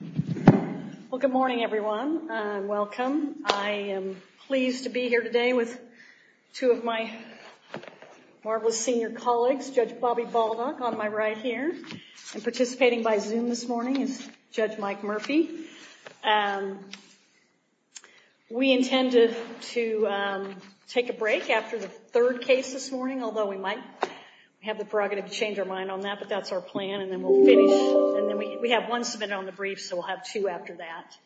Well, good morning, everyone. Welcome. I am pleased to be here today with two of my marvelous senior colleagues, Judge Bobby Baldock on my right here, and participating by Zoom this morning is Judge Mike Murphy. We intended to take a break after the third case this morning, although we might have the prerogative to change our mind on that, but that's our brief, so we'll have two after that,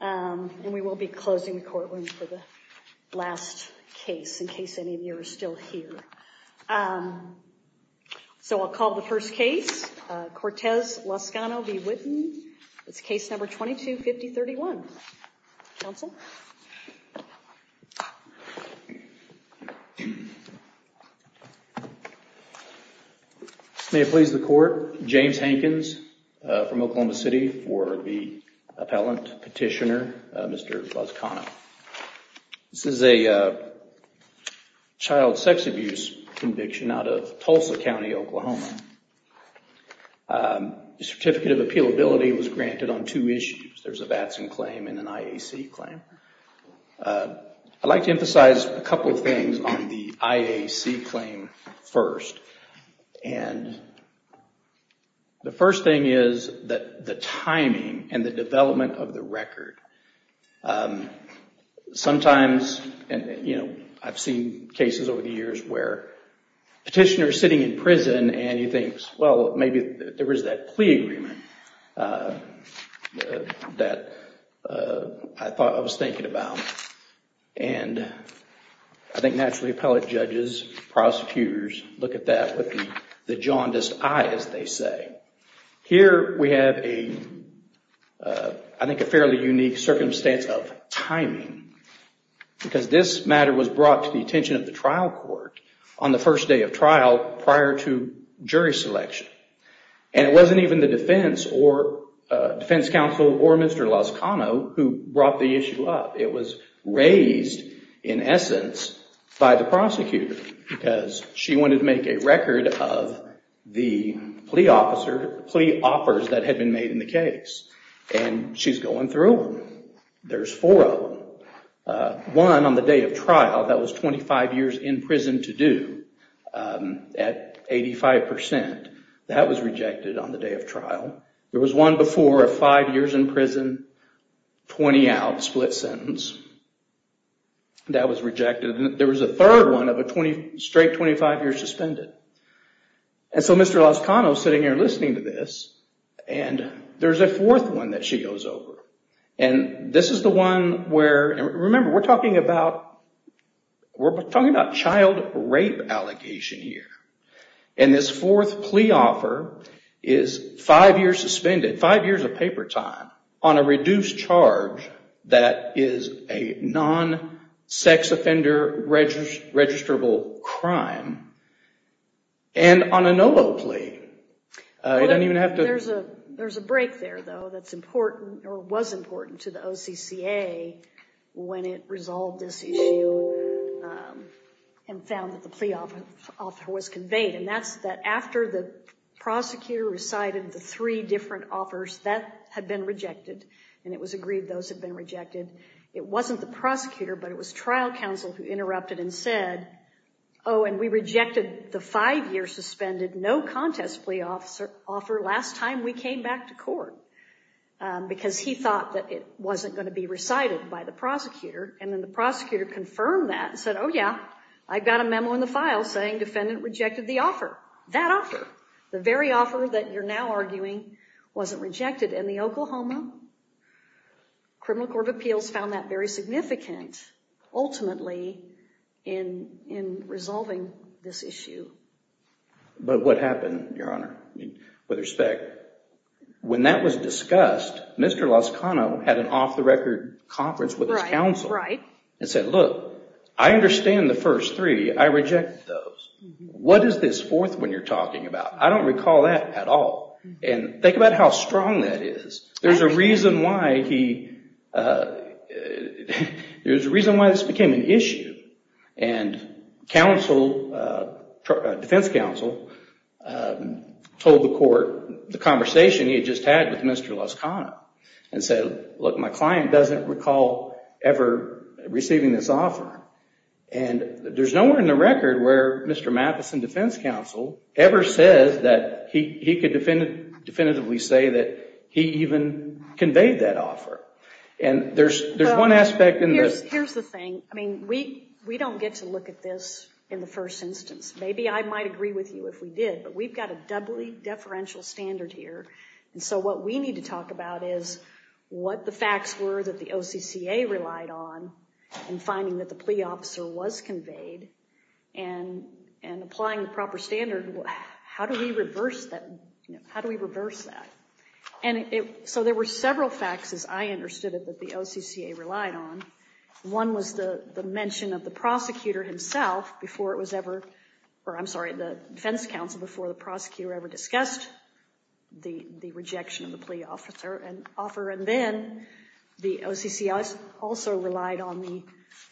and we will be closing the courtroom for the last case in case any of you are still here. So I'll call the first case, Cortez-Lazcano v. Whitten. It's case number 22-5031. Counsel? May it please the Court. James Hankins from Oklahoma City for the appellant, petitioner, Mr. Lazcano. This is a child sex abuse conviction out of Tulsa County, Oklahoma. The Certificate of Appealability was granted on two issues. There's a VATS claim and an IAC claim. I'd like to emphasize a couple of things on the IAC claim first. The first thing is the timing and the development of the record. Sometimes, I've seen cases over the years where a petitioner sitting in prison and he thinks, well, maybe there is that plea agreement that I thought I was thinking about. And I think, naturally, appellate judges, prosecutors look at that with the jaundiced eye, as they say. Here, we have, I think, a fairly unique circumstance of timing because this matter was brought to the attention of the trial court. On the first day of trial, prior to jury selection. And it wasn't even the defense counsel or Mr. Lazcano who brought the issue up. It was raised, in essence, by the prosecutor because she wanted to make a record of the plea offers that had been made in the case. And she's going through them. There's four of them. One on the day of trial that was 25 years in prison to do at 85%. That was rejected on the day of trial. There was one before of five years in prison, 20 out, split sentence. That was rejected. There was a third one of a straight 25 years suspended. And so, Mr. Lazcano is sitting here listening to this. And there's a fourth one that she goes over. And this is the one where, remember, we're talking about we're talking about child rape allegation here. And this fourth plea offer is five years suspended, five years of paper time, on a reduced charge that is a non-sex offender registrable crime. And on a no vote plea. You don't even have to... There's a break there, though, that's important or was important to the OCCA when it resolved this issue and found that the plea offer was conveyed. And that's that after the prosecutor recited the three different offers, that had been rejected. And it was agreed those had been rejected. It wasn't the prosecutor, but it was the five-year suspended no contest plea offer last time we came back to court. Because he thought that it wasn't going to be recited by the prosecutor. And then the prosecutor confirmed that and said, oh yeah, I've got a memo in the file saying defendant rejected the offer. That offer. The very offer that you're now arguing wasn't rejected. And the Oklahoma But what happened, Your Honor, with respect, when that was discussed, Mr. Lozcano had an off-the-record conference with his counsel and said, look, I understand the first three. I reject those. What is this fourth one you're talking about? I don't recall that at all. And think about how strong that is. There's a reason why he, there's a reason why this became an issue. And defense counsel told the court the conversation he had just had with Mr. Lozcano and said, look, my client doesn't recall ever receiving this offer. And there's nowhere in the record where Mr. Matheson, defense counsel, ever says that he could definitively say that he even conveyed that offer. And there's one aspect Here's the thing. I mean, we don't get to look at this in the first instance. Maybe I might agree with you if we did, but we've got a doubly deferential standard here. And so what we need to talk about is what the facts were that the OCCA relied on in finding that the plea officer was How do we reverse that? How do we reverse that? And so there were several facts as I understood it that the OCCA relied on. One was the mention of the prosecutor himself before it was ever, or I'm sorry, the defense counsel before the prosecutor ever discussed the rejection of the plea offer. And then the OCCA also relied on the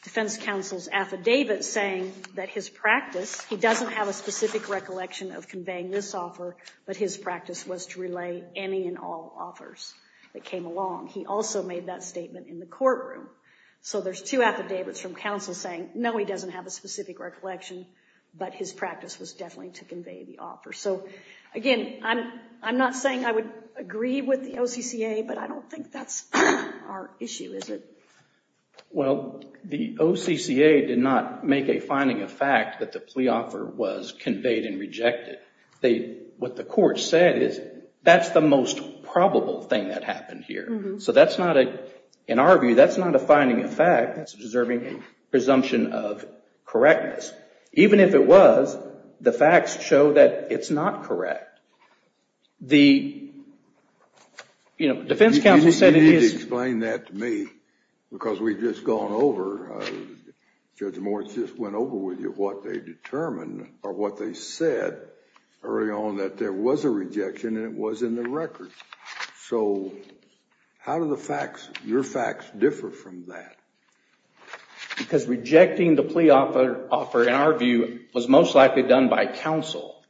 defense counsel's affidavit saying that his practice, he doesn't have a specific recollection of conveying this offer, but his practice was to relay any and all offers that came along. He also made that statement in the courtroom. So there's two affidavits from counsel saying, no, he doesn't have a specific recollection, but his practice was definitely to convey the offer. So again, I'm not saying I would agree with the OCCA, but I don't think that's our issue, is it? Well, the OCCA did not make a finding of fact that the plea offer was conveyed and rejected. What the court said is that's the most probable thing that happened here. So that's not, in our view, that's not a finding of fact, that's deserving presumption of correctness. Even if it was, the facts show that it's not correct. You need to explain that to me, because we've just gone over, Judge Moritz just went over with you what they determined or what they said early on that there was a rejection and it was in the record. So how do your facts differ from that? Because rejecting the plea offer, in our view, was most likely done by counsel.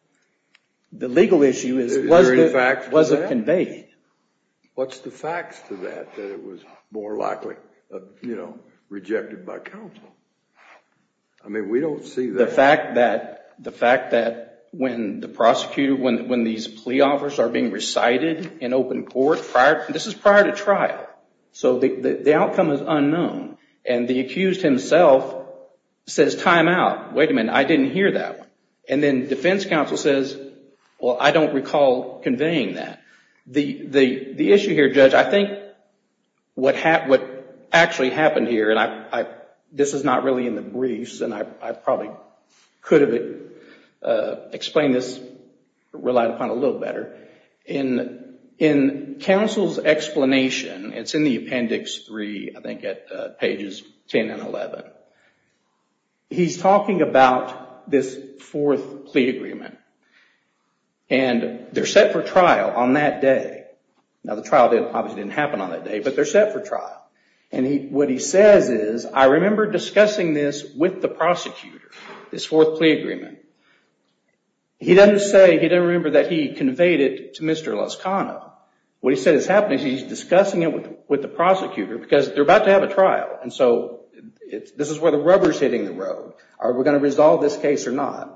The legal issue is, was it conveyed? What's the facts to that, that it was more likely, you know, rejected by counsel? I mean, we don't see that. The fact that when the prosecutor, when these plea offers are being recited in open court, this is prior to trial. So the outcome is unknown. And the accused himself says, time out, wait a minute, I didn't hear that. And then defense counsel says, well, I don't recall conveying that. The issue here, Judge, I think what actually happened here, and this is not really in the briefs, and I probably could have explained this, relied upon a little better. In counsel's explanation, it's in the appendix 3, I think at pages 10 and 11. He's talking about this fourth plea agreement. And they're set for trial on that day. Now the trial didn't, obviously, happen on that day, but they're set for trial. And what he says is, I remember discussing this with the prosecutor, this fourth plea agreement. He doesn't say, he doesn't remember that he conveyed it to Mr. Loscano. What he said is happening, he's discussing it with the prosecutor, because they're about to have a trial. And so this is where the rubber's hitting the road. Are we going to resolve this case or not?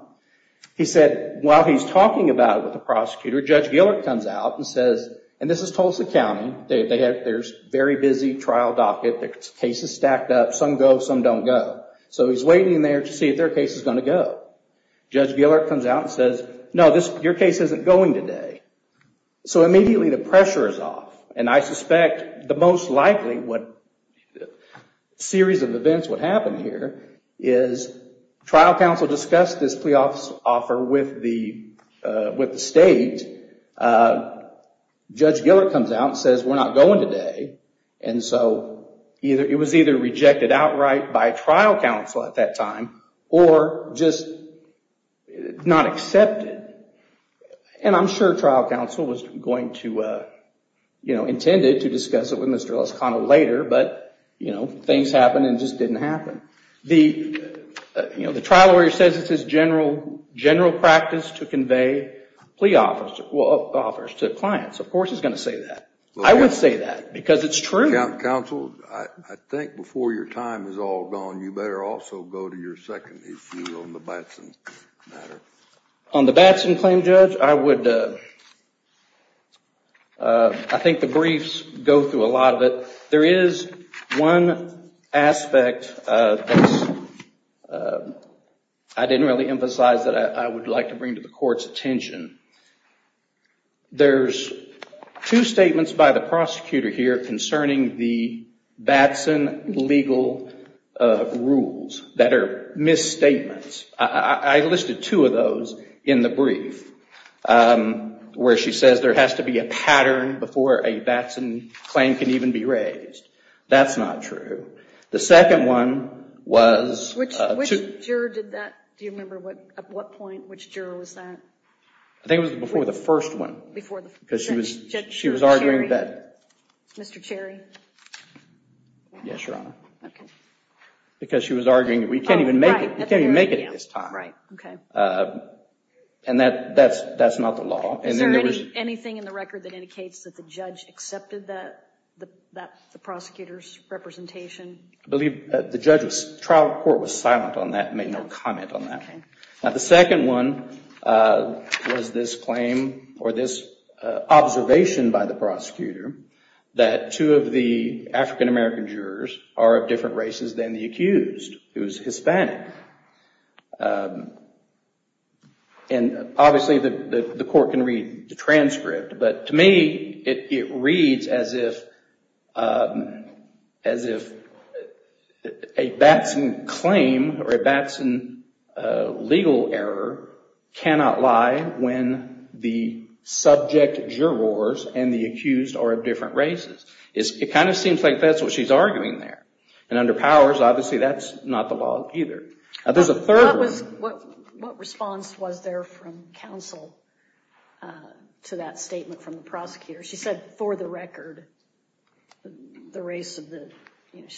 He said, while he's talking about it with the prosecutor, Judge Gillert comes out and says, and this is Tulsa County, there's a very busy trial docket, the cases stacked up, some go, some don't go. So he's waiting there to see if their case is going to go. Judge Gillert comes out and says, no, your case isn't going today. So immediately the pressure is off. And I suspect the most likely series of events would happen here is trial counsel discussed this plea office offer with the state. Judge Gillert comes out and says, we're not going today. And so it was either rejected outright by trial counsel at that time, or just not accepted. And I'm sure trial counsel was going to, you know, intended to discuss it with Mr. Loscano later, but you know, things happened and just didn't happen. The, you know, the trial lawyer says it's his general practice to convey plea offers to clients. Of course he's going to say that. I would say that because it's true. Counsel, I think before your time is all gone, you better also go to your second issue on the Batson matter. On the Batson claim, Judge, I would, I think the briefs go through a lot of it. There is one aspect that I didn't really emphasize that I would like to bring to the court's attention. There's two statements by the prosecutor here concerning the Batson legal rules that are misstatements. I listed two of those in the brief where she says there has to be a pattern before a Batson claim can even be raised. That's not true. The second one was... Which juror did that? Do you remember what, at what point, which juror was that? I think it was before the first one. Because she was arguing that... Mr. Cherry? Yes, Your Honor. Because she was arguing that we can't even make it at this time. Right, okay. And that's not the law. Is there anything in the record that indicates that the judge accepted the prosecutor's representation? I believe the trial court was silent on that and made no comment on that. Now, the second one was this claim or this observation by the prosecutor that two of the African-American jurors are of different races than the accused, who's Hispanic. And obviously, the court can read the transcript. But to me, it reads as if a Batson claim or a Batson legal error cannot lie when the subject jurors and the accused are of different races. It kind of seems like that's what she's arguing there. And under powers, obviously, that's not the law either. What response was there from counsel to that statement from the prosecutor? She said, for the record, the race of the...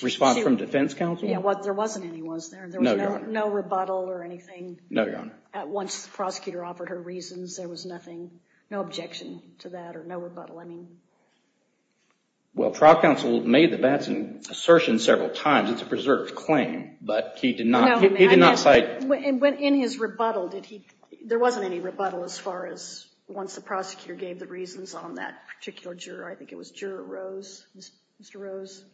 Response from defense counsel? Yeah, there wasn't any, was there? No, Your Honor. No rebuttal or anything? No, Your Honor. Once the prosecutor offered her reasons, there was no objection to that or no rebuttal? Well, trial counsel made the Batson assertion several times. It's a preserved claim. But he did not cite... In his rebuttal, there wasn't any rebuttal as far as once the prosecutor gave the reasons on that particular juror. I think it was Juror Rose, Mr. Rose.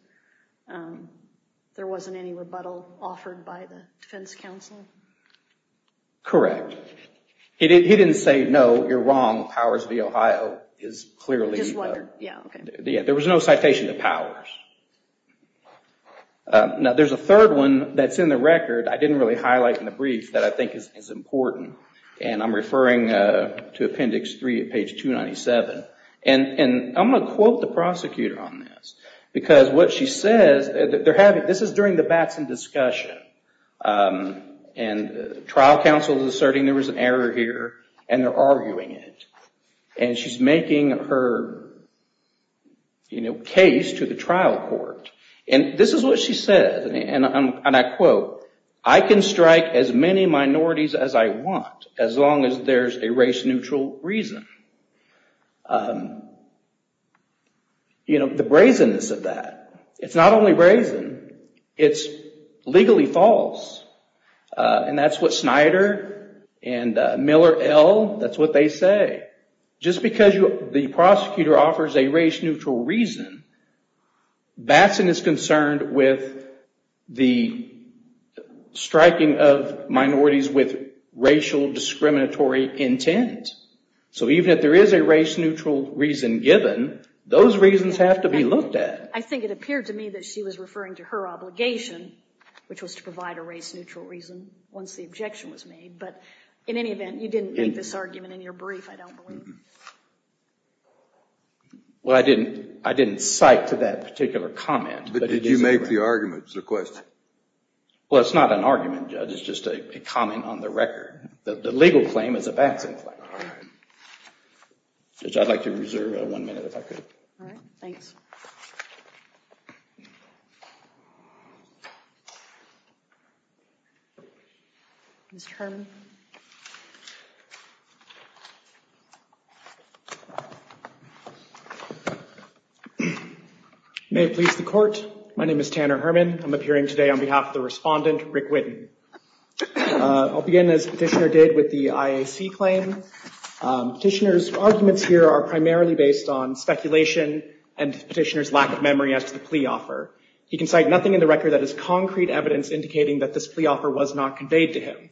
There wasn't any rebuttal offered by the defense counsel? Correct. He didn't say, no, you're wrong. Powers v. Ohio is clearly... His letter, yeah, okay. There was no citation to Powers. Now, there's a third one that's in the record I didn't really highlight in the brief that I I'm going to quote the prosecutor on this. Because what she says, this is during the Batson discussion, and trial counsel is asserting there was an error here, and they're arguing it. And she's making her case to the trial court. And this is what she said, and I quote, I can strike as many minorities as I want, as long as there's a race-neutral reason. And the brazenness of that, it's not only brazen, it's legally false. And that's what Snyder and Miller L., that's what they say. Just because the prosecutor offers a race-neutral reason, Batson is concerned with the striking of minorities with racial discriminatory intent. So even if there is a race-neutral reason given, those reasons have to be looked at. I think it appeared to me that she was referring to her obligation, which was to provide a race-neutral reason once the objection was made. But in any event, you didn't make this argument in your brief, I don't believe. Well, I didn't cite to that particular comment. But did you make the arguments or questions? Well, it's not an argument, Judge, it's just a comment on the record. The legal claim is a Batson claim. Judge, I'd like to reserve one minute, if I could. All right, thanks. Mr. Herman? May it please the Court, my name is Tanner Herman. I'm appearing today on behalf of the respondent, Rick Whitten. I'll begin, as Petitioner did, with the IAC claim. Petitioner's arguments here are primarily based on speculation and Petitioner's lack of memory as to the plea offer. He can cite nothing in the record that is concrete evidence indicating that this plea offer was not conveyed to him.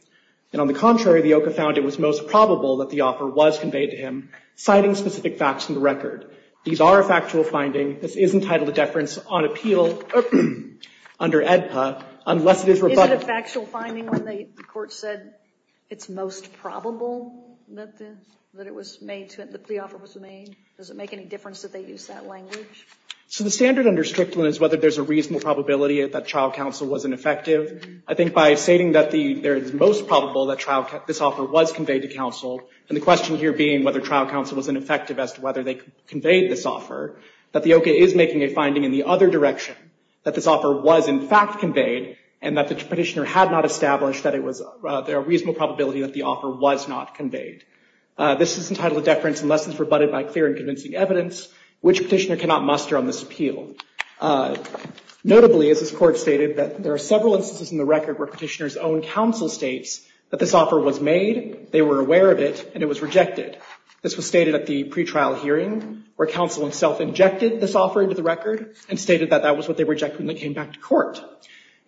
And on the contrary, the OCA found it was most probable that the offer was conveyed to him, citing specific facts from the record. These are a factual finding. The court said it's most probable that the offer was made. Does it make any difference that they use that language? So the standard under Strickland is whether there's a reasonable probability that trial counsel was ineffective. I think by stating that there is most probable that this offer was conveyed to counsel, and the question here being whether trial counsel was ineffective as to whether they conveyed this offer, that the OCA is making a finding in the other direction, that this offer was in fact conveyed, and that the Petitioner had not established that there was a reasonable probability that the offer was not conveyed. This is entitled, Deference and Lessons Rebutted by Clear and Convincing Evidence, which Petitioner cannot muster on this appeal. Notably, as this court stated, that there are several instances in the record where Petitioner's own counsel states that this offer was made, they were aware of it, and it was rejected. This was stated at the pretrial hearing, where counsel himself injected this offer into the record and stated that that was what they rejected when they came back to court.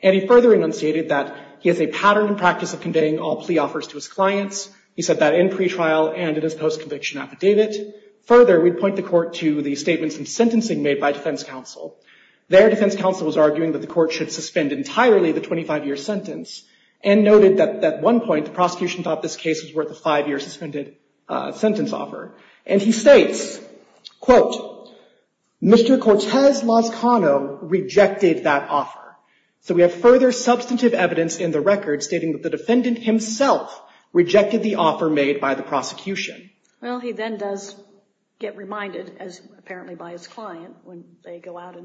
And he further enunciated that he has a pattern and practice of conveying all plea offers to his clients. He said that in pretrial and in his post-conviction affidavit. Further, we'd point the court to the statements in sentencing made by defense counsel. There, defense counsel was arguing that the court should suspend entirely the 25-year sentence, and noted that at one point, the prosecution thought this case was worth a five-year suspended sentence offer. And he states, quote, Mr. Cortez Lozcano rejected that offer. So we have further substantive evidence in the record stating that the defendant himself rejected the offer made by the prosecution. Well, he then does get reminded, as apparently by his client, when they go out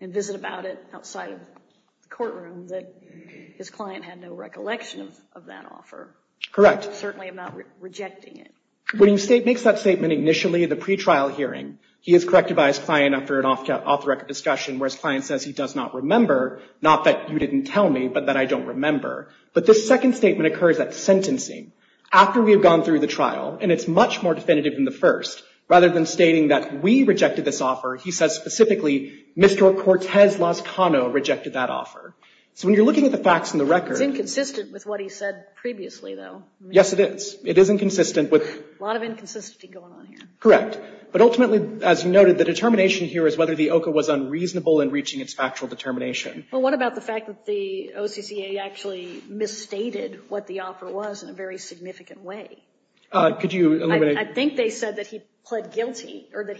and visit about it outside of the courtroom, that his client had no recollection of that offer. Correct. Certainly about rejecting it. When he makes that statement initially in the pretrial hearing, he is corrected by his client after an off-the-record discussion, where his client says he does not remember, not that you didn't tell me, but that I don't remember. But this second statement occurs at sentencing, after we have gone through the trial, and it's much more definitive than the first. Rather than stating that we rejected this offer, he says specifically, Mr. Cortez Lozcano rejected that offer. So when you're looking at the facts in the record— It's inconsistent with what he said previously, though. Yes, it is. It is inconsistent with— A lot of inconsistency going on here. Correct. But ultimately, as you noted, the determination here is whether the OCA was unreasonable in reaching its factual determination. Well, what about the fact that the OCCA actually misstated what the offer was in a very significant way? Could you— I think they said that he pled guilty, or that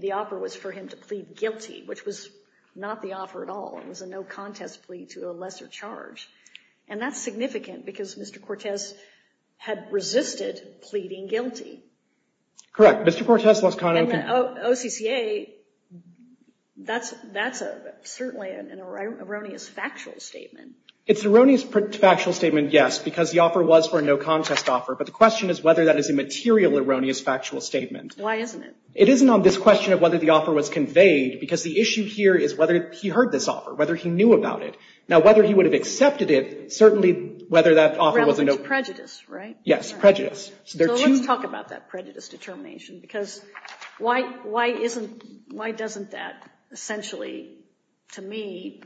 the offer was for him to plead guilty, which was not the offer at all. It was a no-contest plea to a lesser charge. And that's significant, because Mr. Cortez had resisted pleading guilty. Correct. Mr. Cortez Lozcano— And the OCCA, that's certainly an erroneous factual statement. It's an erroneous factual statement, yes, because the offer was for a no-contest offer. But the question is whether that is a material erroneous factual statement. Why isn't it? It isn't on this question of whether the offer was conveyed, because the issue here is whether he heard this offer, whether he knew about it. Now, whether he would have accepted it, certainly, whether that offer was a no— Relative to prejudice, right? Yes, prejudice. So let's talk about that prejudice determination, because why doesn't that essentially, to me,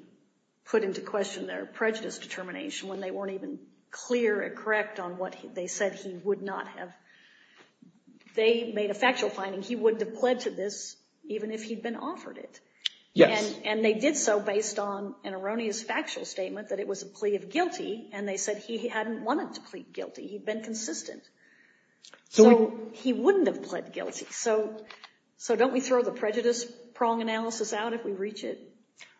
put into question their prejudice determination when they weren't even clear and correct on what they said he would not have— they made a factual finding he would have pled to this even if he'd been offered it. Yes. And they did so based on an erroneous factual statement that it was a plea of guilty, and they said he hadn't wanted to plead guilty. He'd been consistent. So he wouldn't have pled guilty. So don't we throw the prejudice prong analysis out if we reach it?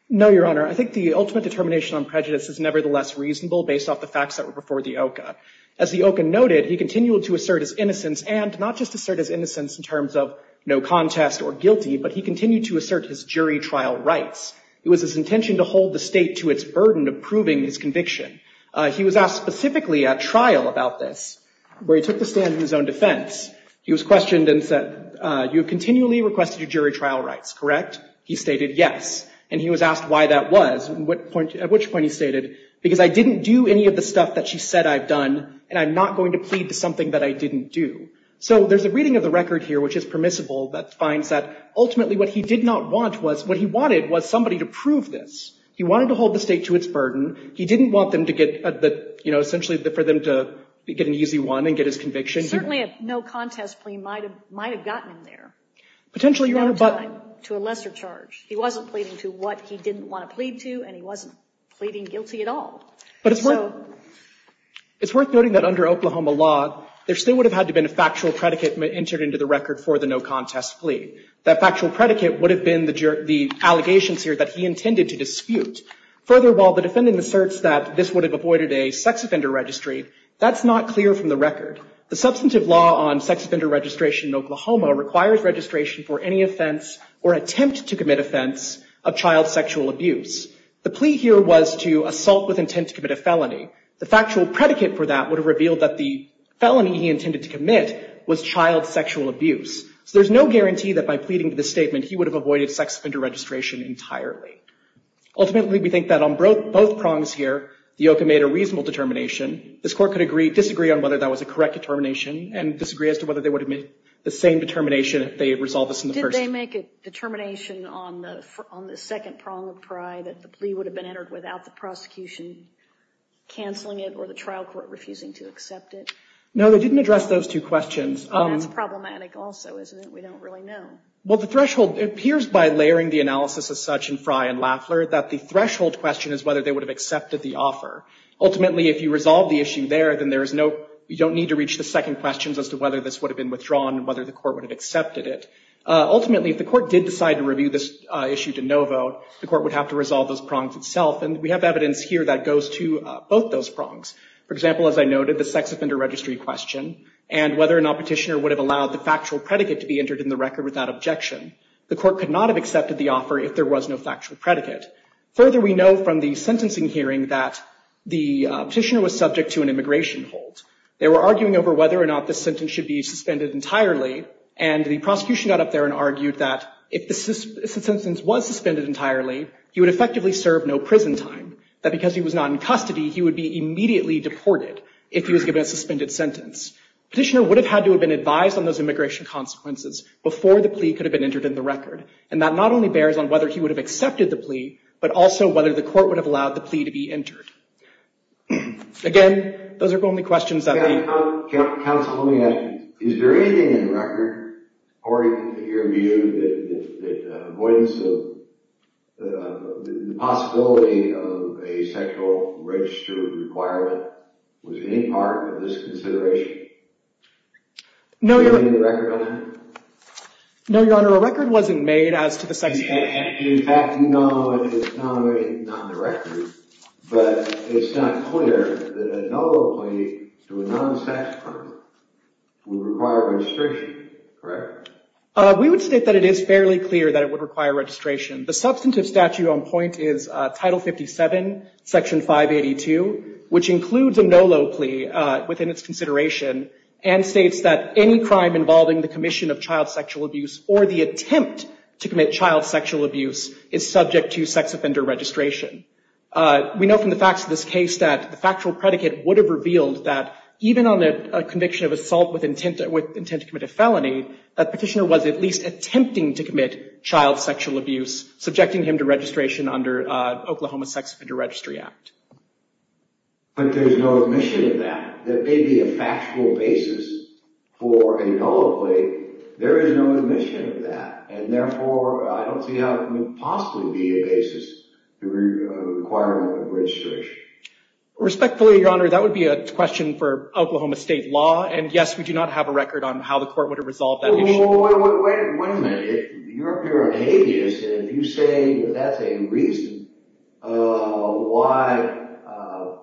No, Your Honor. I think the ultimate determination on prejudice is nevertheless reasonable based off the facts that were before the OCCA. As the OCCA noted, he continued to assert his innocence, and not just assert his innocence in terms of no contest or guilty, but he continued to assert his jury trial rights. It was his intention to hold the state to its burden of proving his conviction. He was asked specifically at trial about this, where he took the stand in his own defense. He was questioned and said, you have continually requested your jury trial rights, correct? He stated, yes. And he was asked why that was, at which point he stated, because I didn't do any of the stuff that she said I've done, and I'm not going to plead to something that I didn't do. So there's a reading of the record here, which is permissible, that finds that ultimately what he did not want was, what he wanted was somebody to prove this. He wanted to hold the state to its burden. He didn't want them to get the, you know, essentially for them to get an easy one and get his conviction. Certainly, a no-contest plea might have gotten him there. Potentially, Your Honor, but to a lesser charge. He wasn't pleading to what he didn't want to plead to, and he wasn't pleading guilty at all. But it's worth noting that under Oklahoma law, there still would have had to have been a factual predicate entered into the record for the no-contest plea. That factual predicate would have been the allegations here that he intended to dispute. Further, while the defendant asserts that this would have avoided a sex offender registry, that's not clear from the record. The substantive law on sex offender registration in Oklahoma requires registration for any offense or attempt to commit offense of child sexual abuse. The plea here was to assault with intent to commit a felony. The factual predicate for that would have revealed that the felony he intended to commit was child sexual abuse. So there's no guarantee that by pleading to this statement, he would have avoided sex offender registration entirely. Ultimately, we think that on both prongs here, the OCA made a reasonable determination. This Court could disagree on whether that was a correct determination and disagree as to whether they would have made the same determination if they had resolved this in the first. Did they make a determination on the second prong of pride that the plea would have been entered without the prosecution canceling it or the trial court refusing to accept it? No, they didn't address those two questions. That's problematic also, isn't it? We don't really know. Well, the threshold appears by layering the analysis as such in Fry and Laffler that the threshold question is whether they would have accepted the offer. Ultimately, if you resolve the issue there, then you don't need to reach the second questions as to whether this would have been withdrawn and whether the court would have accepted it. Ultimately, if the court did decide to review this issue to no vote, the court would have to resolve those prongs itself. And we have evidence here that goes to both those prongs. For example, as I noted, the sex offender registry question and whether or not petitioner would have allowed the factual predicate to be entered in the record without objection. The court could not have accepted the offer if there was no factual predicate. Further, we know from the sentencing hearing that the petitioner was subject to an immigration hold. They were arguing over whether or not this sentence should be suspended entirely. And the prosecution got up there and argued that if the sentence was suspended entirely, he would effectively serve no prison time. That because he was not in custody, he would be immediately deported if he was given a suspended sentence. Petitioner would have had to have been advised on those immigration consequences before the plea could have been entered in the record. And that not only bears on whether he would have accepted the plea, but also whether the court would have allowed the plea to be entered. Again, those are the only questions that we have. Counsel, let me ask you. Is there anything in the record, according to your view, that avoidance of the possibility of a sexual register requirement was any part of this consideration? No, Your Honor. Is there anything in the record on that? No, Your Honor. A record wasn't made as to the sex penalty. In fact, no, it's not on the record. But it's not clear that a double plea to a non-sex partner would require registration, correct? We would state that it is fairly clear that it would require registration. The substantive statute on point is Title 57, Section 582, which includes a no low plea within its consideration and states that any crime involving the commission of child sexual abuse or the attempt to commit child sexual abuse is subject to sex offender registration. We know from the facts of this case that the factual predicate would have revealed that even on a conviction of assault with intent to commit a felony, that petitioner was at least attempting to commit child sexual abuse, subjecting him to registration under Oklahoma Sex Offender Registry Act. But there's no admission of that. There may be a factual basis for a no low plea. There is no admission of that. And therefore, I don't see how it would possibly be a basis to require registration. Respectfully, Your Honor, that would be a question for Oklahoma state law. And yes, we do not have a record on how the court would have resolved that issue. Wait a minute. If you're up here on habeas and you say that's a reason why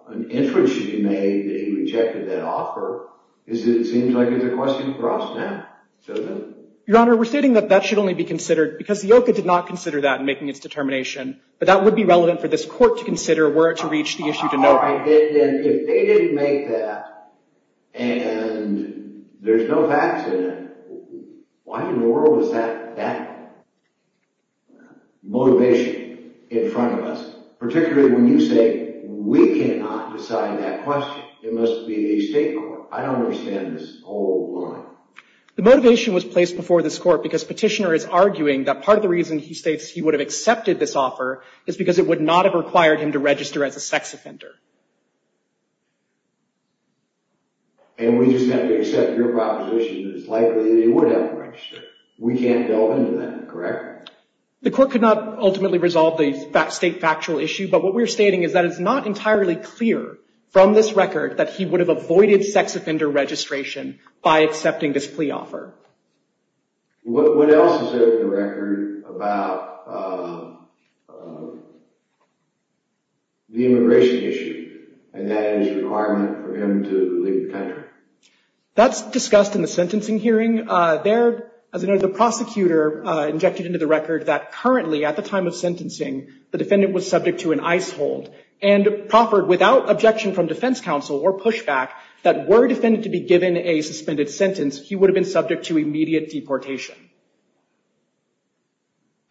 an interest should be made that he rejected that offer, it seems like it's a question for us now. Your Honor, we're stating that that should only be considered because the OCA did not consider that in making its determination. But that would be relevant for this court to consider were it to reach the issue to know. If they didn't make that and there's no facts in it, why in the world is that that motivation in front of us? Particularly when you say we cannot decide that question. It must be the state court. I don't understand this whole line. The motivation was placed before this court because Petitioner is arguing that part of the reason he states he would have accepted this offer is because it would not have required him to register as a sex offender. And we just have to accept your proposition that it's likely that he would have registered. We can't delve into that, correct? The court could not ultimately resolve the state factual issue. But what we're stating is that it's not entirely clear from this record that he would have avoided sex offender registration by accepting this plea offer. What else is in the record about the immigration issue? And that is a requirement for him to leave the country. That's discussed in the sentencing hearing. There, as I know, the prosecutor injected into the record that currently at the time of sentencing, the defendant was subject to an ice hold and proffered without objection from defense counsel or pushback that were defended to be given a suspended sentence, he would have been subject to immediate deportation.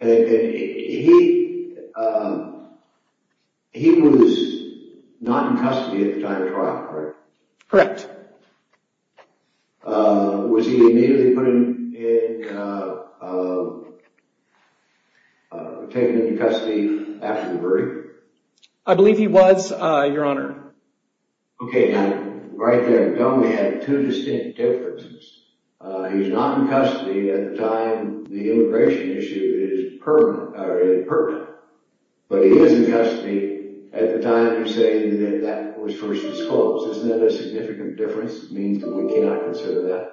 And he was not in custody at the time of trial, correct? Correct. Was he immediately put in, taken into custody after the verdict? I believe he was, Your Honor. Okay, now right there, Gomey had two distinct differences. He was not in custody at the time the immigration issue is pertinent, but he is in custody at the time you're saying that that was first disclosed. Isn't that a significant difference? It means that we cannot consider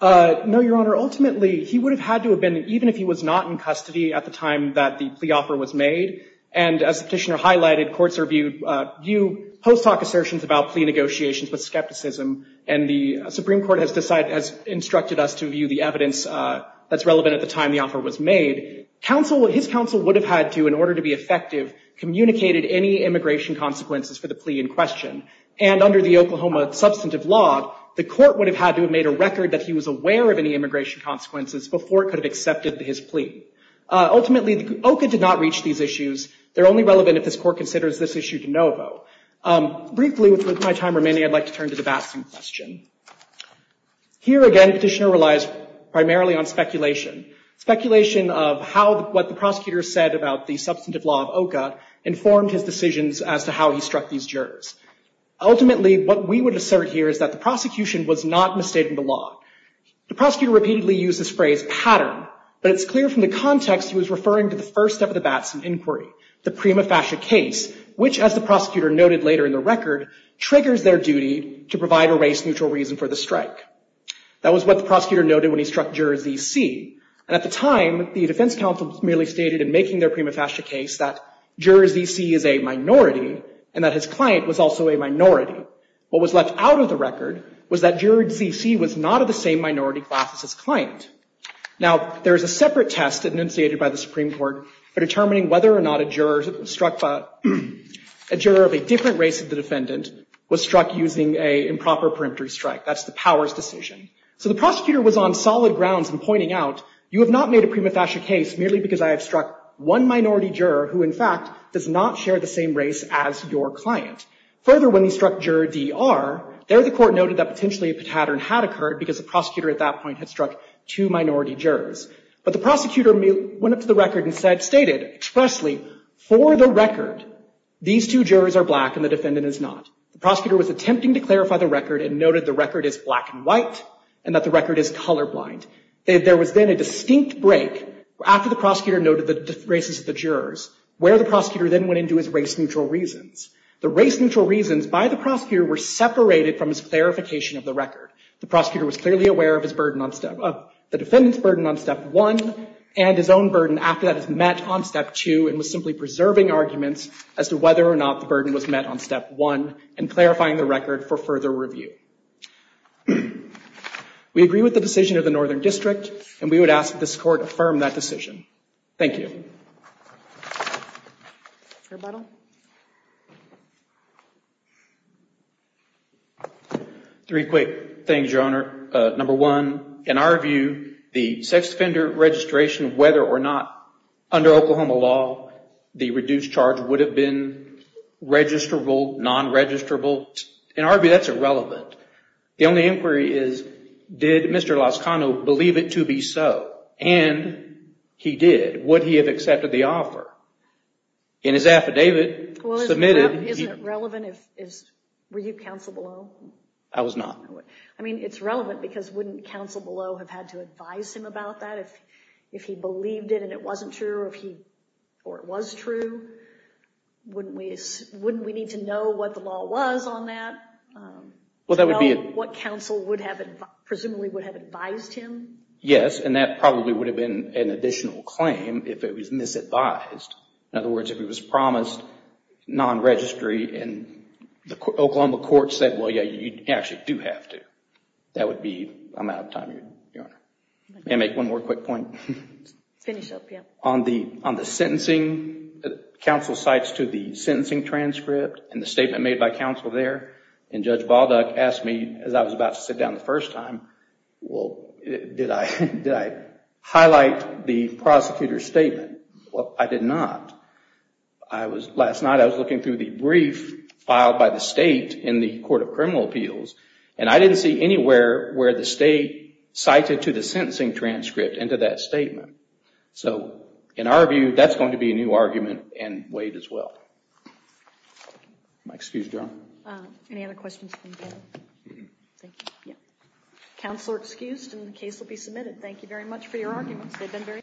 that? No, Your Honor. Ultimately, he would have had to have been, even if he was not in custody at the time that the plea offer was made, and as the petitioner highlighted, courts are viewed, view post hoc assertions about plea negotiations with skepticism and the Supreme Court has decided, has instructed us to view the evidence that's relevant at the time the offer was made. His counsel would have had to, in order to be effective, communicated any immigration consequences for the plea in question. And under the Oklahoma substantive law, the court would have had to have made a record that he was aware of any immigration consequences before it could have accepted his plea. Ultimately, OCA did not reach these issues. They're only relevant if this court considers this issue to know about. Briefly, with my time remaining, I'd like to turn to the Batson question. Here again, petitioner relies primarily on speculation. Speculation of what the prosecutor said about the substantive law of OCA informed his decisions as to how he struck these jurors. Ultimately, what we would assert here is that the prosecution was not misstating the law. The prosecutor repeatedly used this phrase, pattern, but it's clear from the context he was referring to the first step of the Batson inquiry, the prima facie case, which, as the prosecutor noted later in the record, triggers their duty to provide a race-neutral reason for the strike. That was what the prosecutor noted when he struck juror Z.C. And at the time, the defense counsel merely stated in making their prima facie case that juror Z.C. is a minority and that his client was also a minority. What was left out of the record was that juror Z.C. was not of the same minority class as his client. Now, there is a separate test initiated by the Supreme Court for determining whether or not a juror of a different race of the defendant was struck using a improper peremptory strike. That's the powers decision. So the prosecutor was on solid grounds in pointing out, you have not made a prima facie case merely because I have struck one minority juror who, in fact, does not share the same race as your client. Further, when he struck juror D.R., there the court noted that potentially a pattern had occurred because the prosecutor at that point had struck two minority jurors. But the prosecutor went up to the record and stated expressly, for the record, these two jurors are black and the defendant is not. The prosecutor was attempting to clarify the record and noted the record is black and white and that the record is colorblind. There was then a distinct break after the prosecutor noted the races of the jurors where the prosecutor then went into his race-neutral reasons. The race-neutral reasons by the prosecutor were separated from his clarification of the record. The prosecutor was clearly aware of the defendant's burden on step one and his own burden after that is met on step two and was simply preserving arguments as to whether or not the burden was met on step one and clarifying the record for further review. We agree with the decision of the Northern District and we would ask that this court affirm that decision. Thank you. Rebuttal. Three quick things, Your Honor. Number one, in our view, the sex offender registration, whether or not under Oklahoma law the reduced charge would have been registrable, non-registrable, in our view, that's irrelevant. The only inquiry is, did Mr. Lozcano believe it to be so? And he did. Would he have accepted the offer? In his affidavit, submitted... Isn't it relevant if... Were you counsel below? I was not. I mean, it's relevant because wouldn't counsel below have had to advise him about that? If he believed it and it wasn't true or it was true, wouldn't we need to know what the law was on that? What counsel presumably would have advised him? Yes, and that probably would have been an additional claim if it was misadvised. In other words, if it was promised non-registry and the Oklahoma court said, well, yeah, you actually do have to. That would be... I'm out of time, Your Honor. May I make one more quick point? Finish up, yeah. On the sentencing, counsel cites to the sentencing transcript and the statement made by counsel there. And Judge Balduck asked me, as I was about to sit down the first time, well, did I highlight the prosecutor's statement? Well, I did not. I was... Last night, I was looking through the brief filed by the state in the Court of Criminal Appeals and I didn't see anywhere where the state cited to the sentencing transcript into that statement. So in our view, that's going to be a new argument and weighed as well. If I may excuse, Your Honor. Any other questions? Thank you, yeah. Counsel are excused and the case will be submitted. Thank you very much for your arguments. They've been very...